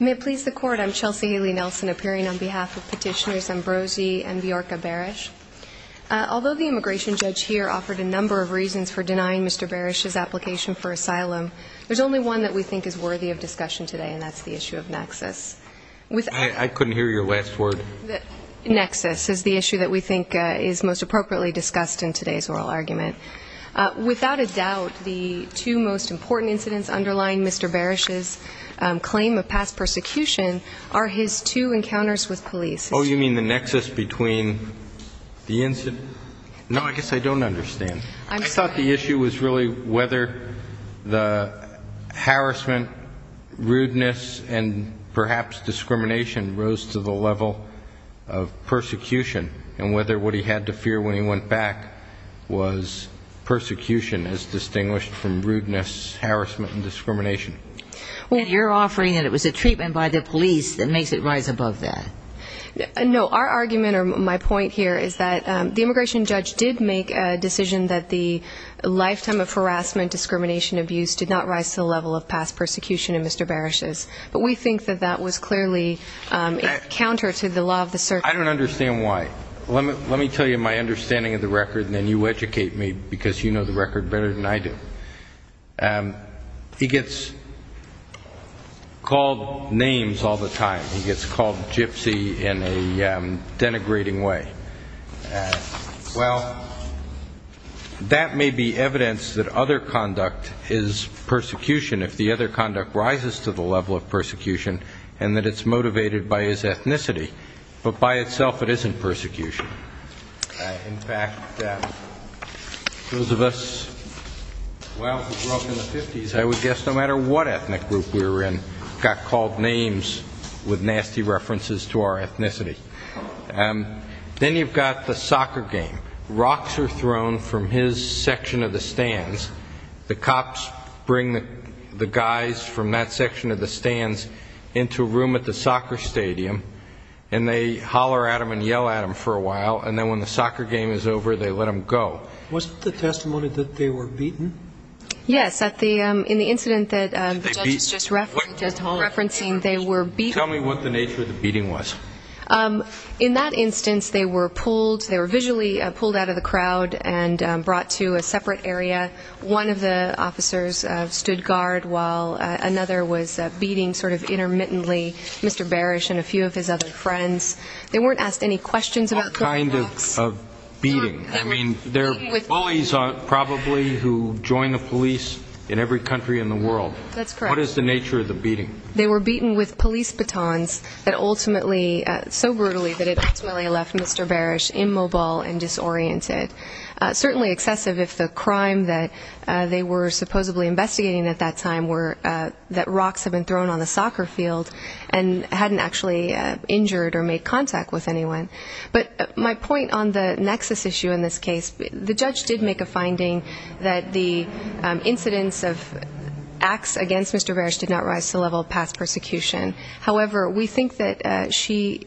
May it please the Court, I'm Chelsea Haley-Nelson. Thank you, Mr. Barish, for joining us and appearing on behalf of Petitioners Ambrosi and Bjorka Barish. Although the immigration judge here offered a number of reasons for denying Mr. Barish's application for asylum, there's only one that we think is worthy of discussion today, and that's the issue of nexus. I couldn't hear your last word. Nexus is the issue that we think is most appropriately discussed in today's oral argument. Without a doubt, the two most important incidents underlying Mr. Barish's claim of past persecution are his two encounters with police. Oh, you mean the nexus between the incident? No, I guess I don't understand. I'm sorry. I thought the issue was really whether the harassment, rudeness, and perhaps discrimination rose to the level of persecution and whether what he had to fear when he went back was persecution as distinguished from rudeness, harassment, and discrimination. Well, you're offering that it was a treatment by the police that makes it rise above that. No, our argument or my point here is that the immigration judge did make a decision that the lifetime of harassment, discrimination, abuse did not rise to the level of past persecution in Mr. Barish's. But we think that that was clearly counter to the law of the circus. I don't understand why. Let me tell you my understanding of the record and then you educate me because you know the record better than I do. He gets called names all the time. He gets called gypsy in a denigrating way. Well, that may be evidence that other conduct is persecution if the other conduct rises to the level of persecution and that it's motivated by his ethnicity. But by itself it isn't persecution. In fact, those of us who grew up in the 50s, I would guess no matter what ethnic group we were in, got called names with nasty references to our ethnicity. Then you've got the soccer game. Rocks are thrown from his section of the stands. The cops bring the guys from that section of the stands into a room at the soccer stadium and they holler at him and yell at him for a while. And then when the soccer game is over, they let him go. Wasn't the testimony that they were beaten? Yes. In the incident that the judge was just referencing, they were beaten. Tell me what the nature of the beating was. In that instance, they were pulled. They were actually pulled out of the crowd and brought to a separate area. One of the officers stood guard while another was beating sort of intermittently Mr. Barish and a few of his other friends. They weren't asked any questions about going nuts. What kind of beating? I mean, they're bullies probably who join the police in every country in the world. What is the nature of the beating? They were beaten with police batons so brutally that it ultimately left Mr. Barish immobile and disoriented. Certainly excessive if the crime that they were supposedly investigating at that time were that rocks had been thrown on the soccer field and hadn't actually injured or made contact with anyone. But my point on the nexus issue in this case, the judge did make a finding that the incidents of acts against Mr. Barish did not rise to the level of past persecution. However, we think that she,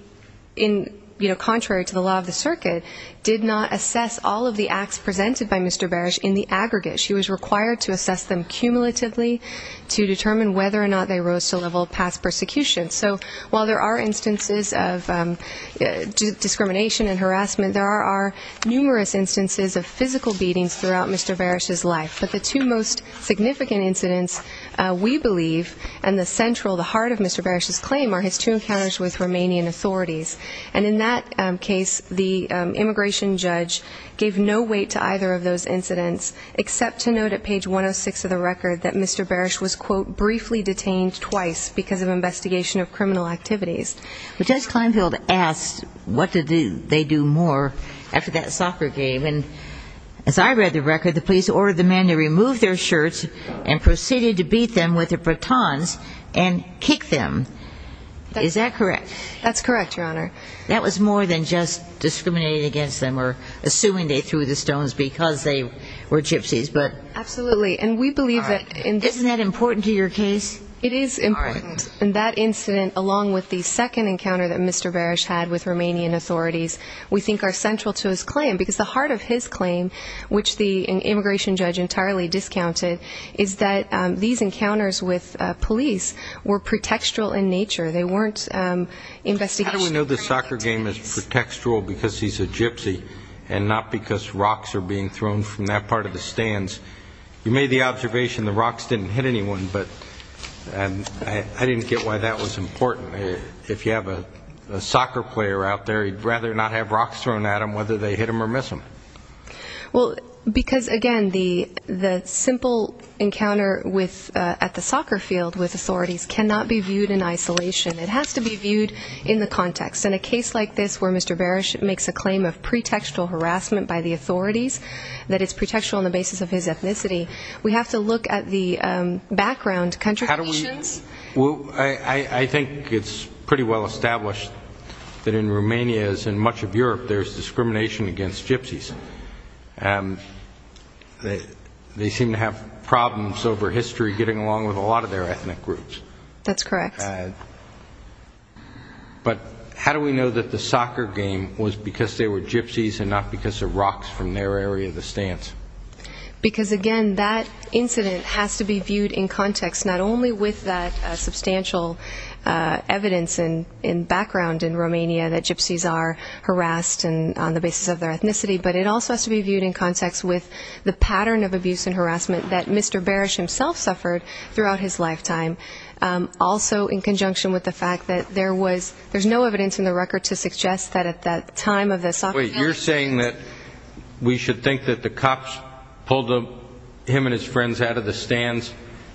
contrary to the law of the circuit, did not assess all of the acts presented by Mr. Barish in the aggregate. She was required to assess them cumulatively to determine whether or not they rose to the level of past persecution. So while there are instances of discrimination and harassment, there are numerous instances of physical beatings throughout Mr. Barish's life. But the two most significant incidents, we believe, and the central, the heart of Mr. Barish's claim, are his two encounters with Romanian authorities. And in that case, the immigration judge gave no weight to either of those incidents except to note at page 106 of the record that Mr. Barish was, quote, briefly detained twice because of investigation of criminal activities. But Judge Kleinfeld asked what did they do more after that soccer game. And as I read the record, the police ordered the men to remove their shirts and proceeded to beat them with their batons and kick them. Is that correct? That's correct, Your Honor. That was more than just discriminating against them or assuming they threw the stones because they were gypsies. Absolutely. Isn't that important to your case? It is important. And that incident, along with the second encounter that Mr. Barish had with Romanian authorities, we think are central to his claim. Because the heart of his claim, which the immigration judge entirely discounted, is that these encounters with police were pretextual in nature. They weren't investigational. We know the soccer game is pretextual because he's a gypsy and not because rocks are being thrown from that part of the stands. You made the observation the rocks didn't hit anyone, but I didn't get why that was important. If you have a soccer player out there, he'd rather not have rocks thrown at him whether they hit him or miss him. Because, again, the simple encounter at the soccer field with authorities cannot be viewed in isolation. It has to be viewed in the context. In a case like this where Mr. Barish makes a claim of pretextual harassment by the authorities, that it's pretextual on the basis of his ethnicity, we have to look at the background contributions. I think it's pretty well established that in Romania, as in much of Europe, there's discrimination against gypsies. They seem to have problems over history getting along with a lot of their ethnic groups. That's correct. But how do we know that the soccer game was because they were gypsies and not because of rocks from their area of the stands? Because, again, that incident has to be viewed in context, not only with that substantial evidence and background in Romania that gypsies are harassed on the basis of their ethnicity, but it also has to be viewed in context with the pattern of abuse and harassment that Mr. Barish himself suffered throughout his lifetime, also in conjunction with the fact that there's no evidence in the record to suggest that at that time of the soccer game. Wait, you're saying that we should think that the cops pulled him and his friends out of the stands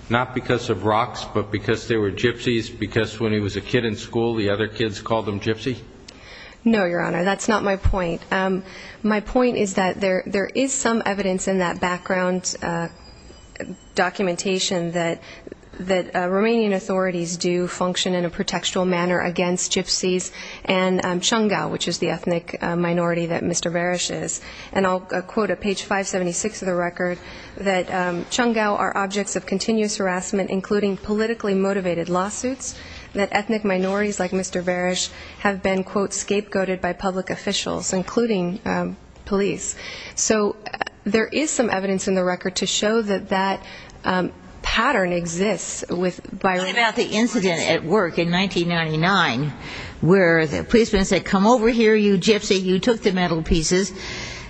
not because of rocks, but because they were gypsies, because when he was a kid in school, the other kids called him gypsy? No, Your Honor, that's not my point. My point is that there is some evidence in that background documentation that Romanian authorities do function in a pretextual manner against gypsies and Cungau, which is the ethnic minority that Mr. Barish is. And I'll quote at page 576 of the record that Cungau are objects of continuous harassment, including politically motivated lawsuits, that ethnic minorities like Mr. Barish have been, quote, scapegoated by public officials, including police. So there is some evidence in the record to show that that pattern exists with by Romanian authorities. I was at work in 1999 where the policeman said, come over here, you gypsy. You took the metal pieces.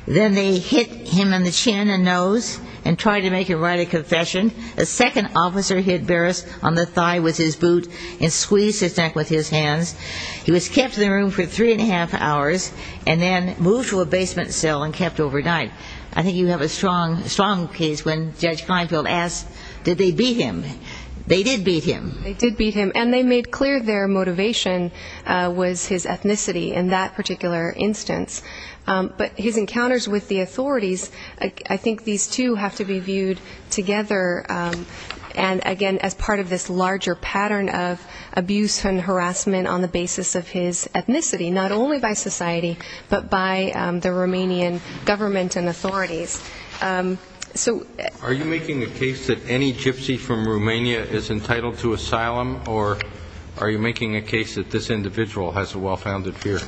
Then they hit him in the chin and nose and tried to make him write a confession. A second officer hit Barish on the thigh with his boot and squeezed his neck with his hands. He was kept in the room for three and a half hours and then moved to a basement cell and kept overnight. I think you have a strong case when Judge Kleinfeld asks, did they beat him? They did beat him. And they made clear their motivation was his ethnicity in that particular instance. But his encounters with the authorities, I think these two have to be viewed together, and, again, as part of this larger pattern of abuse and harassment on the basis of his ethnicity, not only by society but by the Romanian government and authorities. So are you making the case that any gypsy from Romania is entitled to asylum, or are you making a case that this individual has a well-founded fear?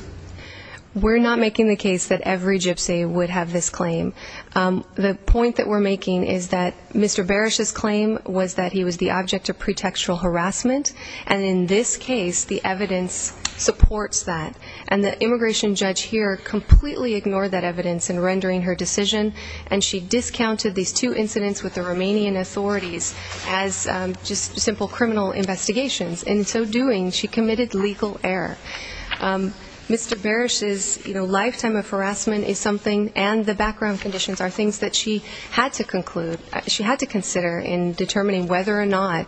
We're not making the case that every gypsy would have this claim. The point that we're making is that Mr. Barish's claim was that he was the object of pretextual harassment, and in this case the evidence supports that. And the immigration judge here completely ignored that evidence in rendering her decision, and she discounted these two incidents with the Romanian authorities as just simple criminal investigations. In so doing, she committed legal error. Mr. Barish's lifetime of harassment is something, and the background conditions are things that she had to conclude, she had to consider in determining whether or not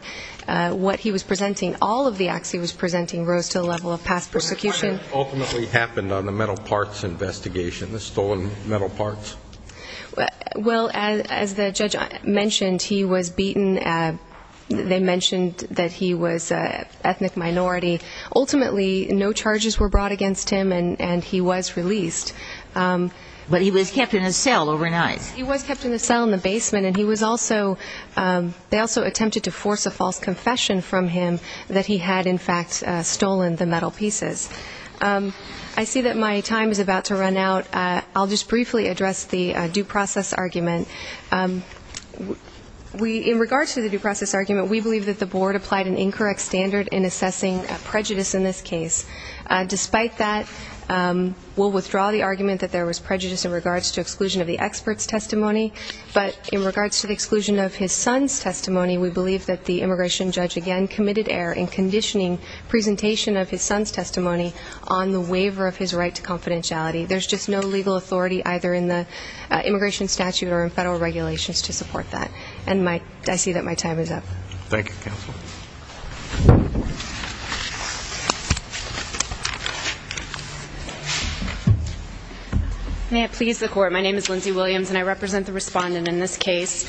what he was presenting, all of the acts he was presenting rose to the level of past persecution. What kind of ultimately happened on the metal parts investigation, the stolen metal parts? Well, as the judge mentioned, he was beaten. They mentioned that he was an ethnic minority. Ultimately, no charges were brought against him, and he was released. But he was kept in a cell overnight. He was kept in a cell in the basement, and he was also ‑‑ that he had in fact stolen the metal pieces. I see that my time is about to run out. I'll just briefly address the due process argument. In regards to the due process argument, we believe that the board applied an incorrect standard in assessing prejudice in this case. Despite that, we'll withdraw the argument that there was prejudice in regards to exclusion of the expert's testimony, but in regards to the exclusion of his son's testimony, we believe that the immigration judge, again, committed error in conditioning presentation of his son's testimony on the waiver of his right to confidentiality. There's just no legal authority either in the immigration statute or in federal regulations to support that. And I see that my time is up. Thank you, counsel. May it please the Court, my name is Lindsay Williams, and I represent the respondent in this case.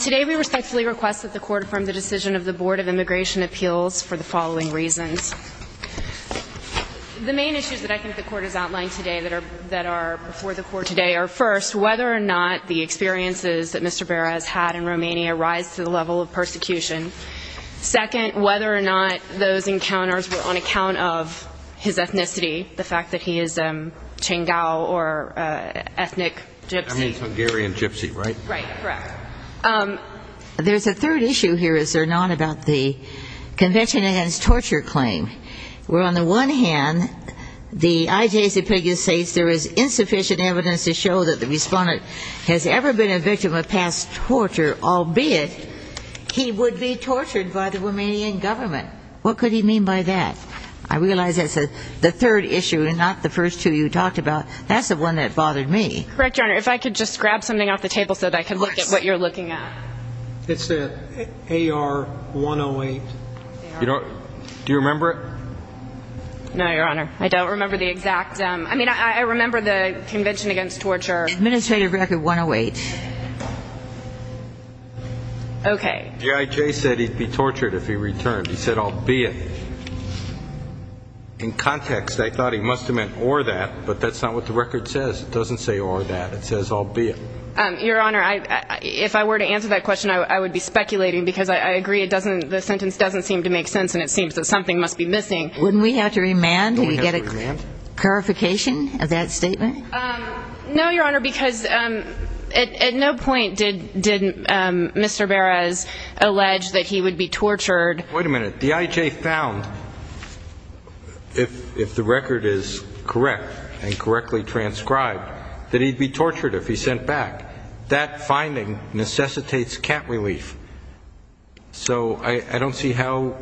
Today we respectfully request that the Court affirm the decision of the Board of Immigration Appeals for the following reasons. The main issues that I think the Court has outlined today that are before the Court today are, first, whether or not the experiences that Mr. Berra has had in Romania rise to the level of persecution. Second, whether or not those encounters were on account of his ethnicity, the fact that he is Cangao or ethnic Gypsy. That means Hungarian Gypsy, right? Right, correct. There's a third issue here, is there not, about the Convention Against Torture claim, where on the one hand the IJC Pegas states there is insufficient evidence to show that the respondent has ever been a victim of past torture, albeit he would be tortured by the Romanian government. What could he mean by that? I realize that's the third issue and not the first two you talked about. That's the one that bothered me. Correct, Your Honor. If I could just grab something off the table so that I could look at what you're looking at. It's the AR-108. Do you remember it? No, Your Honor. I don't remember the exact. I mean, I remember the Convention Against Torture. Administrative Record 108. Okay. The IJ said he'd be tortured if he returned. He said, I'll be it. In context, I thought he must have meant or that, but that's not what the record says. It doesn't say or that. It says, I'll be it. Your Honor, if I were to answer that question, I would be speculating because I agree the sentence doesn't seem to make sense, and it seems that something must be missing. Wouldn't we have to remand? Don't we have to remand? Do we get a clarification of that statement? No, Your Honor, because at no point did Mr. Beres allege that he would be tortured. Wait a minute. The IJ found, if the record is correct and correctly transcribed, that he'd be tortured if he sent back. That finding necessitates cat relief. So I don't see how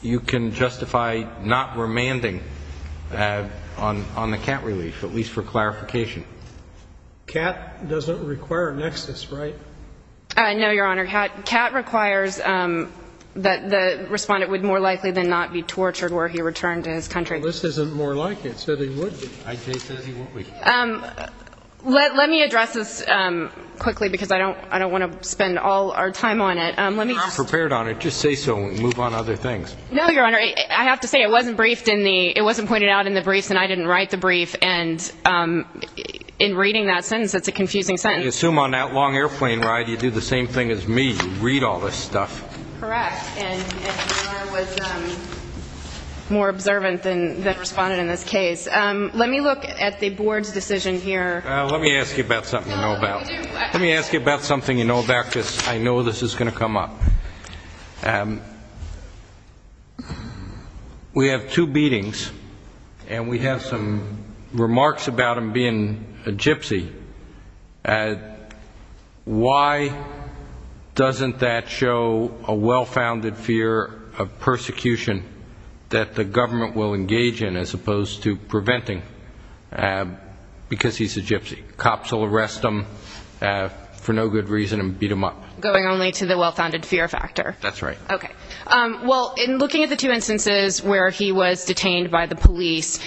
you can justify not remanding on the cat relief, at least for clarification. Cat doesn't require nexus, right? No, Your Honor. Cat requires that the respondent would more likely than not be tortured were he returned to his country. Well, this isn't more like it. So they would be. IJ says he would be. Let me address this quickly because I don't want to spend all our time on it. You're not prepared on it. Just say so and move on to other things. No, Your Honor. I have to say it wasn't briefed in the ñ it wasn't pointed out in the briefs, and I didn't write the brief. And in reading that sentence, it's a confusing sentence. I assume on that long airplane ride you do the same thing as me. You read all this stuff. Correct. And Your Honor was more observant than responded in this case. Let me look at the board's decision here. Let me ask you about something you know about. Let me ask you about something you know about because I know this is going to come up. We have two beatings, and we have some remarks about him being a gypsy. Why doesn't that show a well-founded fear of persecution that the government will engage in as opposed to preventing because he's a gypsy? Cops will arrest him for no good reason and beat him up. Going only to the well-founded fear factor. That's right. Okay. Well, in looking at the two instances where he was detained by the police,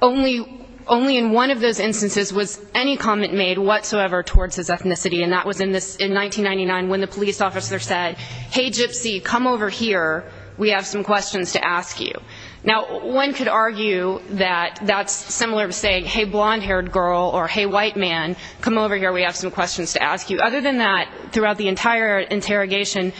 only in one of those instances was any comment made whatsoever towards his ethnicity, and that was in 1999 when the police officer said, hey, gypsy, come over here. We have some questions to ask you. Now, one could argue that that's similar to saying, hey, blonde-haired girl, or hey, white man, come over here. We have some questions to ask you. Other than that, throughout the entire interrogation,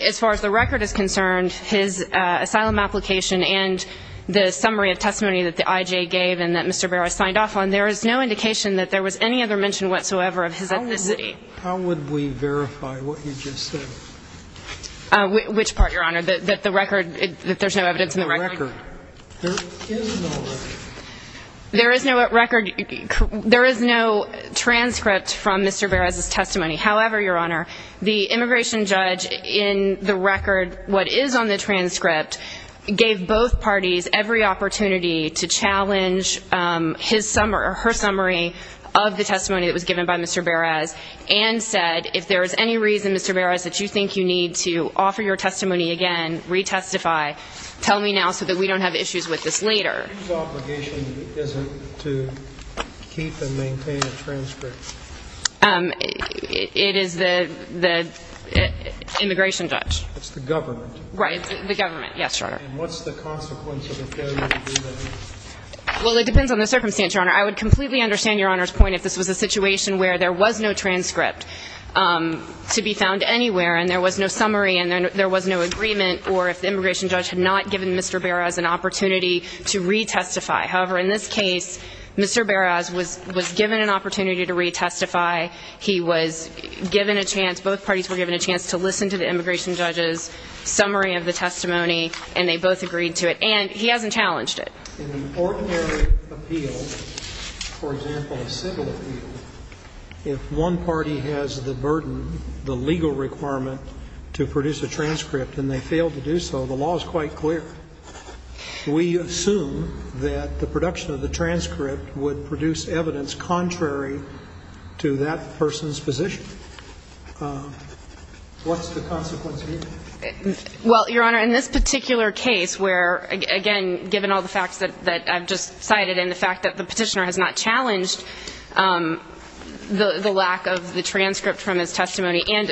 as far as the record is concerned, his asylum application and the summary of testimony that the IJ gave and that Mr. Beres signed off on, there is no indication that there was any other mention whatsoever of his ethnicity. How would we verify what you just said? Which part, Your Honor? That the record, that there's no evidence in the record? The record. There is no record. There is no record. There is no transcript from Mr. Beres' testimony. However, Your Honor, the immigration judge in the record, what is on the transcript, gave both parties every opportunity to challenge his summary or her summary of the testimony that was given by Mr. Beres and said, if there is any reason, Mr. Beres, that you think you need to offer your testimony again, retestify, tell me now so that we don't have issues with this later. Whose obligation is it to keep and maintain a transcript? It is the immigration judge. It's the government. Right, the government. Yes, Your Honor. And what's the consequence of a failure to do that? Well, it depends on the circumstance, Your Honor. I would completely understand Your Honor's point if this was a situation where there was no transcript to be found anywhere and there was no summary and there was no agreement, or if the immigration judge had not given Mr. Beres an opportunity to retestify. However, in this case, Mr. Beres was given an opportunity to retestify. He was given a chance, both parties were given a chance to listen to the immigration judge's summary of the testimony, and they both agreed to it. And he hasn't challenged it. In an ordinary appeal, for example, a civil appeal, if one party has the burden, the legal requirement to produce a transcript and they fail to do so, the law is quite clear. We assume that the production of the transcript would produce evidence contrary to that person's position. What's the consequence here? Well, Your Honor, in this particular case where, again, given all the facts that I've just cited and the fact that the petitioner has not challenged the lack of the transcript from his testimony and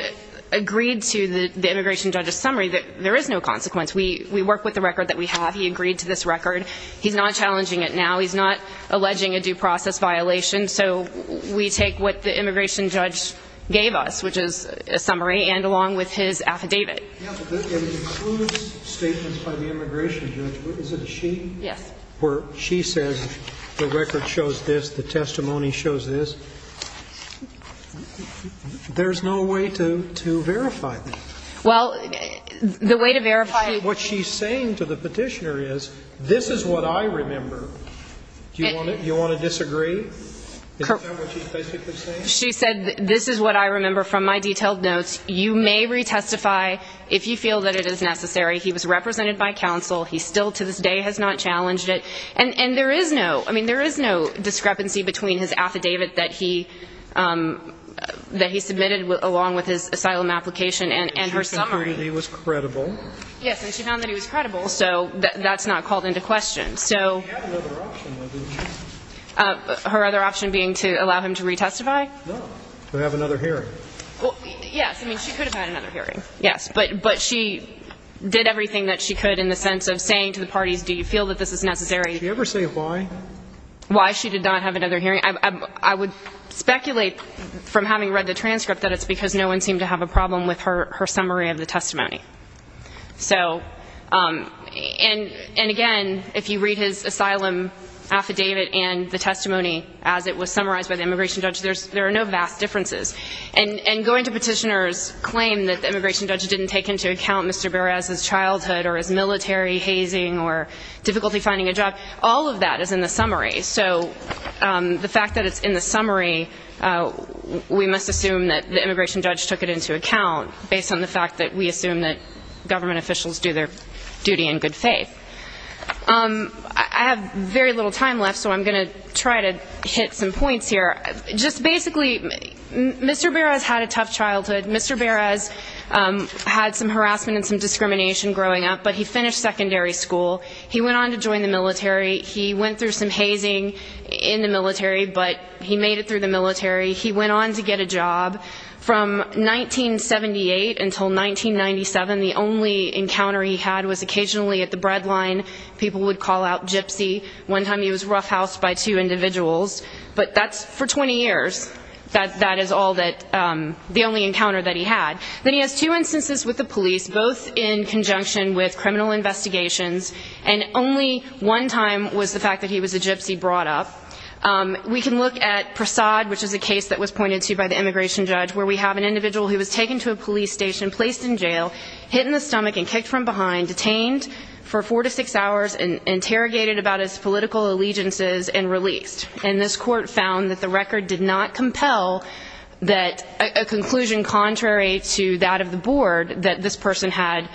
agreed to the immigration judge's summary, there is no consequence. We work with the record that we have. He agreed to this record. He's not challenging it now. He's not alleging a due process violation. So we take what the immigration judge gave us, which is a summary, and along with his affidavit. It includes statements by the immigration judge. Is it a she? Yes. Well, she says the record shows this. The testimony shows this. There's no way to verify that. Well, the way to verify what she's saying to the petitioner is this is what I remember. Do you want to disagree? Is that what she's basically saying? She said this is what I remember from my detailed notes. You may retestify if you feel that it is necessary. He was represented by counsel. He still to this day has not challenged it. And there is no discrepancy between his affidavit that he submitted along with his asylum application and her summary. She found that he was credible. Yes, and she found that he was credible, so that's not called into question. She had another option, though, didn't she? Her other option being to allow him to retestify? No, to have another hearing. Yes, I mean, she could have had another hearing, yes. But she did everything that she could in the sense of saying to the parties, do you feel that this is necessary? Did she ever say why? Why she did not have another hearing. I would speculate from having read the transcript that it's because no one seemed to have a problem with her summary of the testimony. So, and again, if you read his asylum affidavit and the testimony as it was summarized by the immigration judge, there are no vast differences. And going to petitioners' claim that the immigration judge didn't take into account Mr. Perez's childhood or his military hazing or difficulty finding a job, all of that is in the summary. So the fact that it's in the summary, we must assume that the immigration judge took it into account based on the fact that we assume that government officials do their duty in good faith. I have very little time left, so I'm going to try to hit some points here. Just basically, Mr. Perez had a tough childhood. Mr. Perez had some harassment and some discrimination growing up, but he finished secondary school. He went on to join the military. He went through some hazing in the military, but he made it through the military. He went on to get a job. From 1978 until 1997, the only encounter he had was occasionally at the bread line. People would call out Gypsy. One time he was roughhoused by two individuals. But that's for 20 years. That is all that the only encounter that he had. Then he has two instances with the police, both in conjunction with criminal investigations, and only one time was the fact that he was a Gypsy brought up. We can look at Prasad, which is a case that was pointed to by the immigration judge, where we have an individual who was taken to a police station, placed in jail, hit in the stomach and kicked from behind, detained for four to six hours, interrogated about his political allegiances, and released. And this court found that the record did not compel a conclusion contrary to that of the board that this person had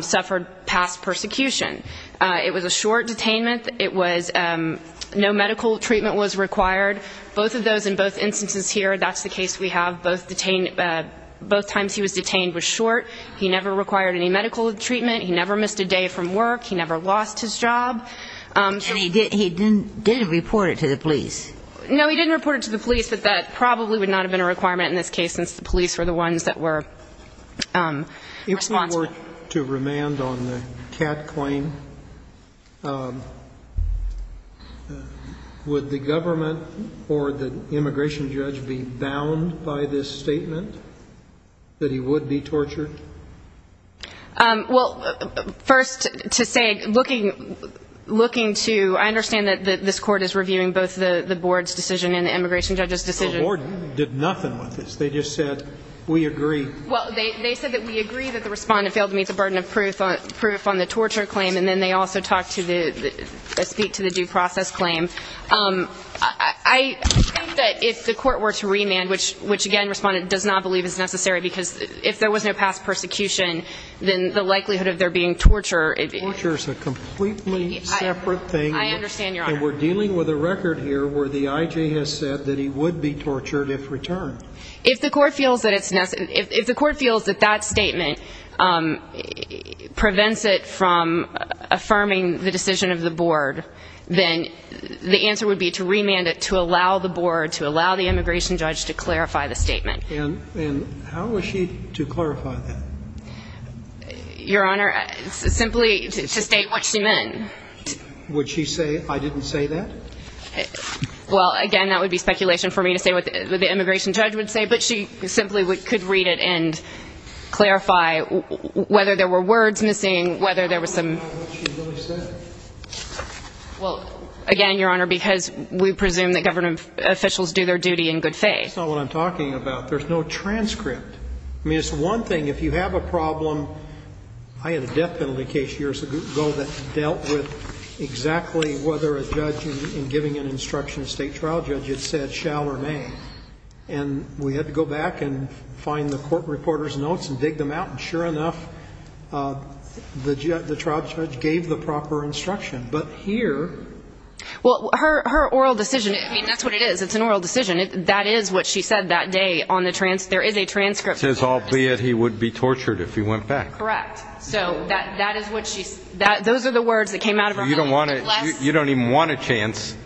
suffered past persecution. It was a short detainment. No medical treatment was required. Both of those in both instances here, that's the case we have. Both times he was detained was short. He never required any medical treatment. He never missed a day from work. He never lost his job. And he didn't report it to the police. No, he didn't report it to the police, but that probably would not have been a requirement in this case since the police were the ones that were responsible. To remand on the Cat claim, would the government or the immigration judge be bound by this statement that he would be tortured? Well, first to say, looking to ñ I understand that this court is reviewing both the board's decision and the immigration judge's decision. The board did nothing with this. They just said, we agree. Well, they said that we agree that the respondent failed to meet the burden of proof on the torture claim, and then they also talked to the ñ speak to the due process claim. I think that if the court were to remand, which, again, the respondent does not believe is necessary because if there was no past persecution, then the likelihood of there being torture ñ Torture is a completely separate thing. I understand, Your Honor. And we're dealing with a record here where the IJ has said that he would be tortured if returned. If the court feels that it's ñ if the court feels that that statement prevents it from affirming the decision of the board, then the answer would be to remand it to allow the board, to allow the immigration judge to clarify the statement. And how was she to clarify that? Your Honor, simply to state what she meant. Would she say, I didn't say that? Well, again, that would be speculation for me to say what the immigration judge would say, but she simply could read it and clarify whether there were words missing, whether there was some ñ How would she know what she really said? Well, again, Your Honor, because we presume that government officials do their duty in good faith. That's not what I'm talking about. There's no transcript. I mean, it's one thing if you have a problem ñ I had a death penalty case years ago that dealt with exactly whether a judge in giving an instruction to a state trial judge had said shall or may. And we had to go back and find the court reporter's notes and dig them out. And sure enough, the trial judge gave the proper instruction. But here ñ Well, her oral decision ñ I mean, that's what it is. It's an oral decision. That is what she said that day on the ñ there is a transcript there. It says, albeit he would be tortured if he went back. Correct. So that is what she ñ those are the words that came out of her mouth. You don't want to ñ you don't even want a chance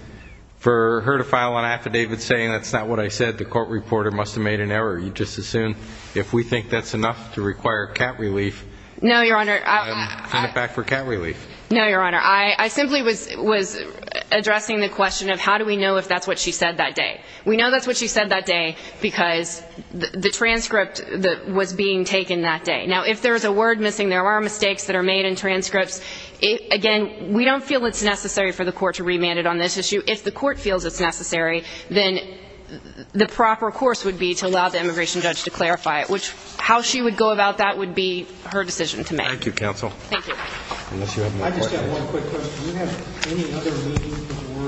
for her to file an affidavit saying that's not what I said, the court reporter must have made an error. You just assume if we think that's enough to require cat relief ñ No, Your Honor. ñ send it back for cat relief. No, Your Honor. I simply was addressing the question of how do we know if that's what she said that day. We know that's what she said that day because the transcript was being taken that day. Now, if there is a word missing, there are mistakes that are made in transcripts. Again, we don't feel it's necessary for the court to remand it on this issue. If the court feels it's necessary, then the proper course would be to allow the immigration judge to clarify it, which how she would go about that would be her decision to make. Thank you, counsel. Thank you. I just have one quick question. Do you have any other meaning for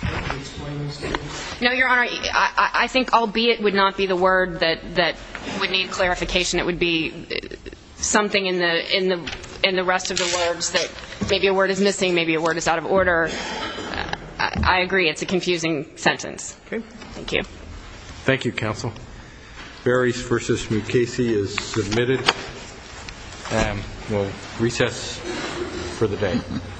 the word ìalbeitî? No, Your Honor. I think ìalbeitî would not be the word that would need clarification. It would be something in the rest of the words that maybe a word is missing, maybe a word is out of order. I agree it's a confusing sentence. Okay. Thank you. Thank you, counsel. Beres v. Mukasey is submitted. We'll recess for the day.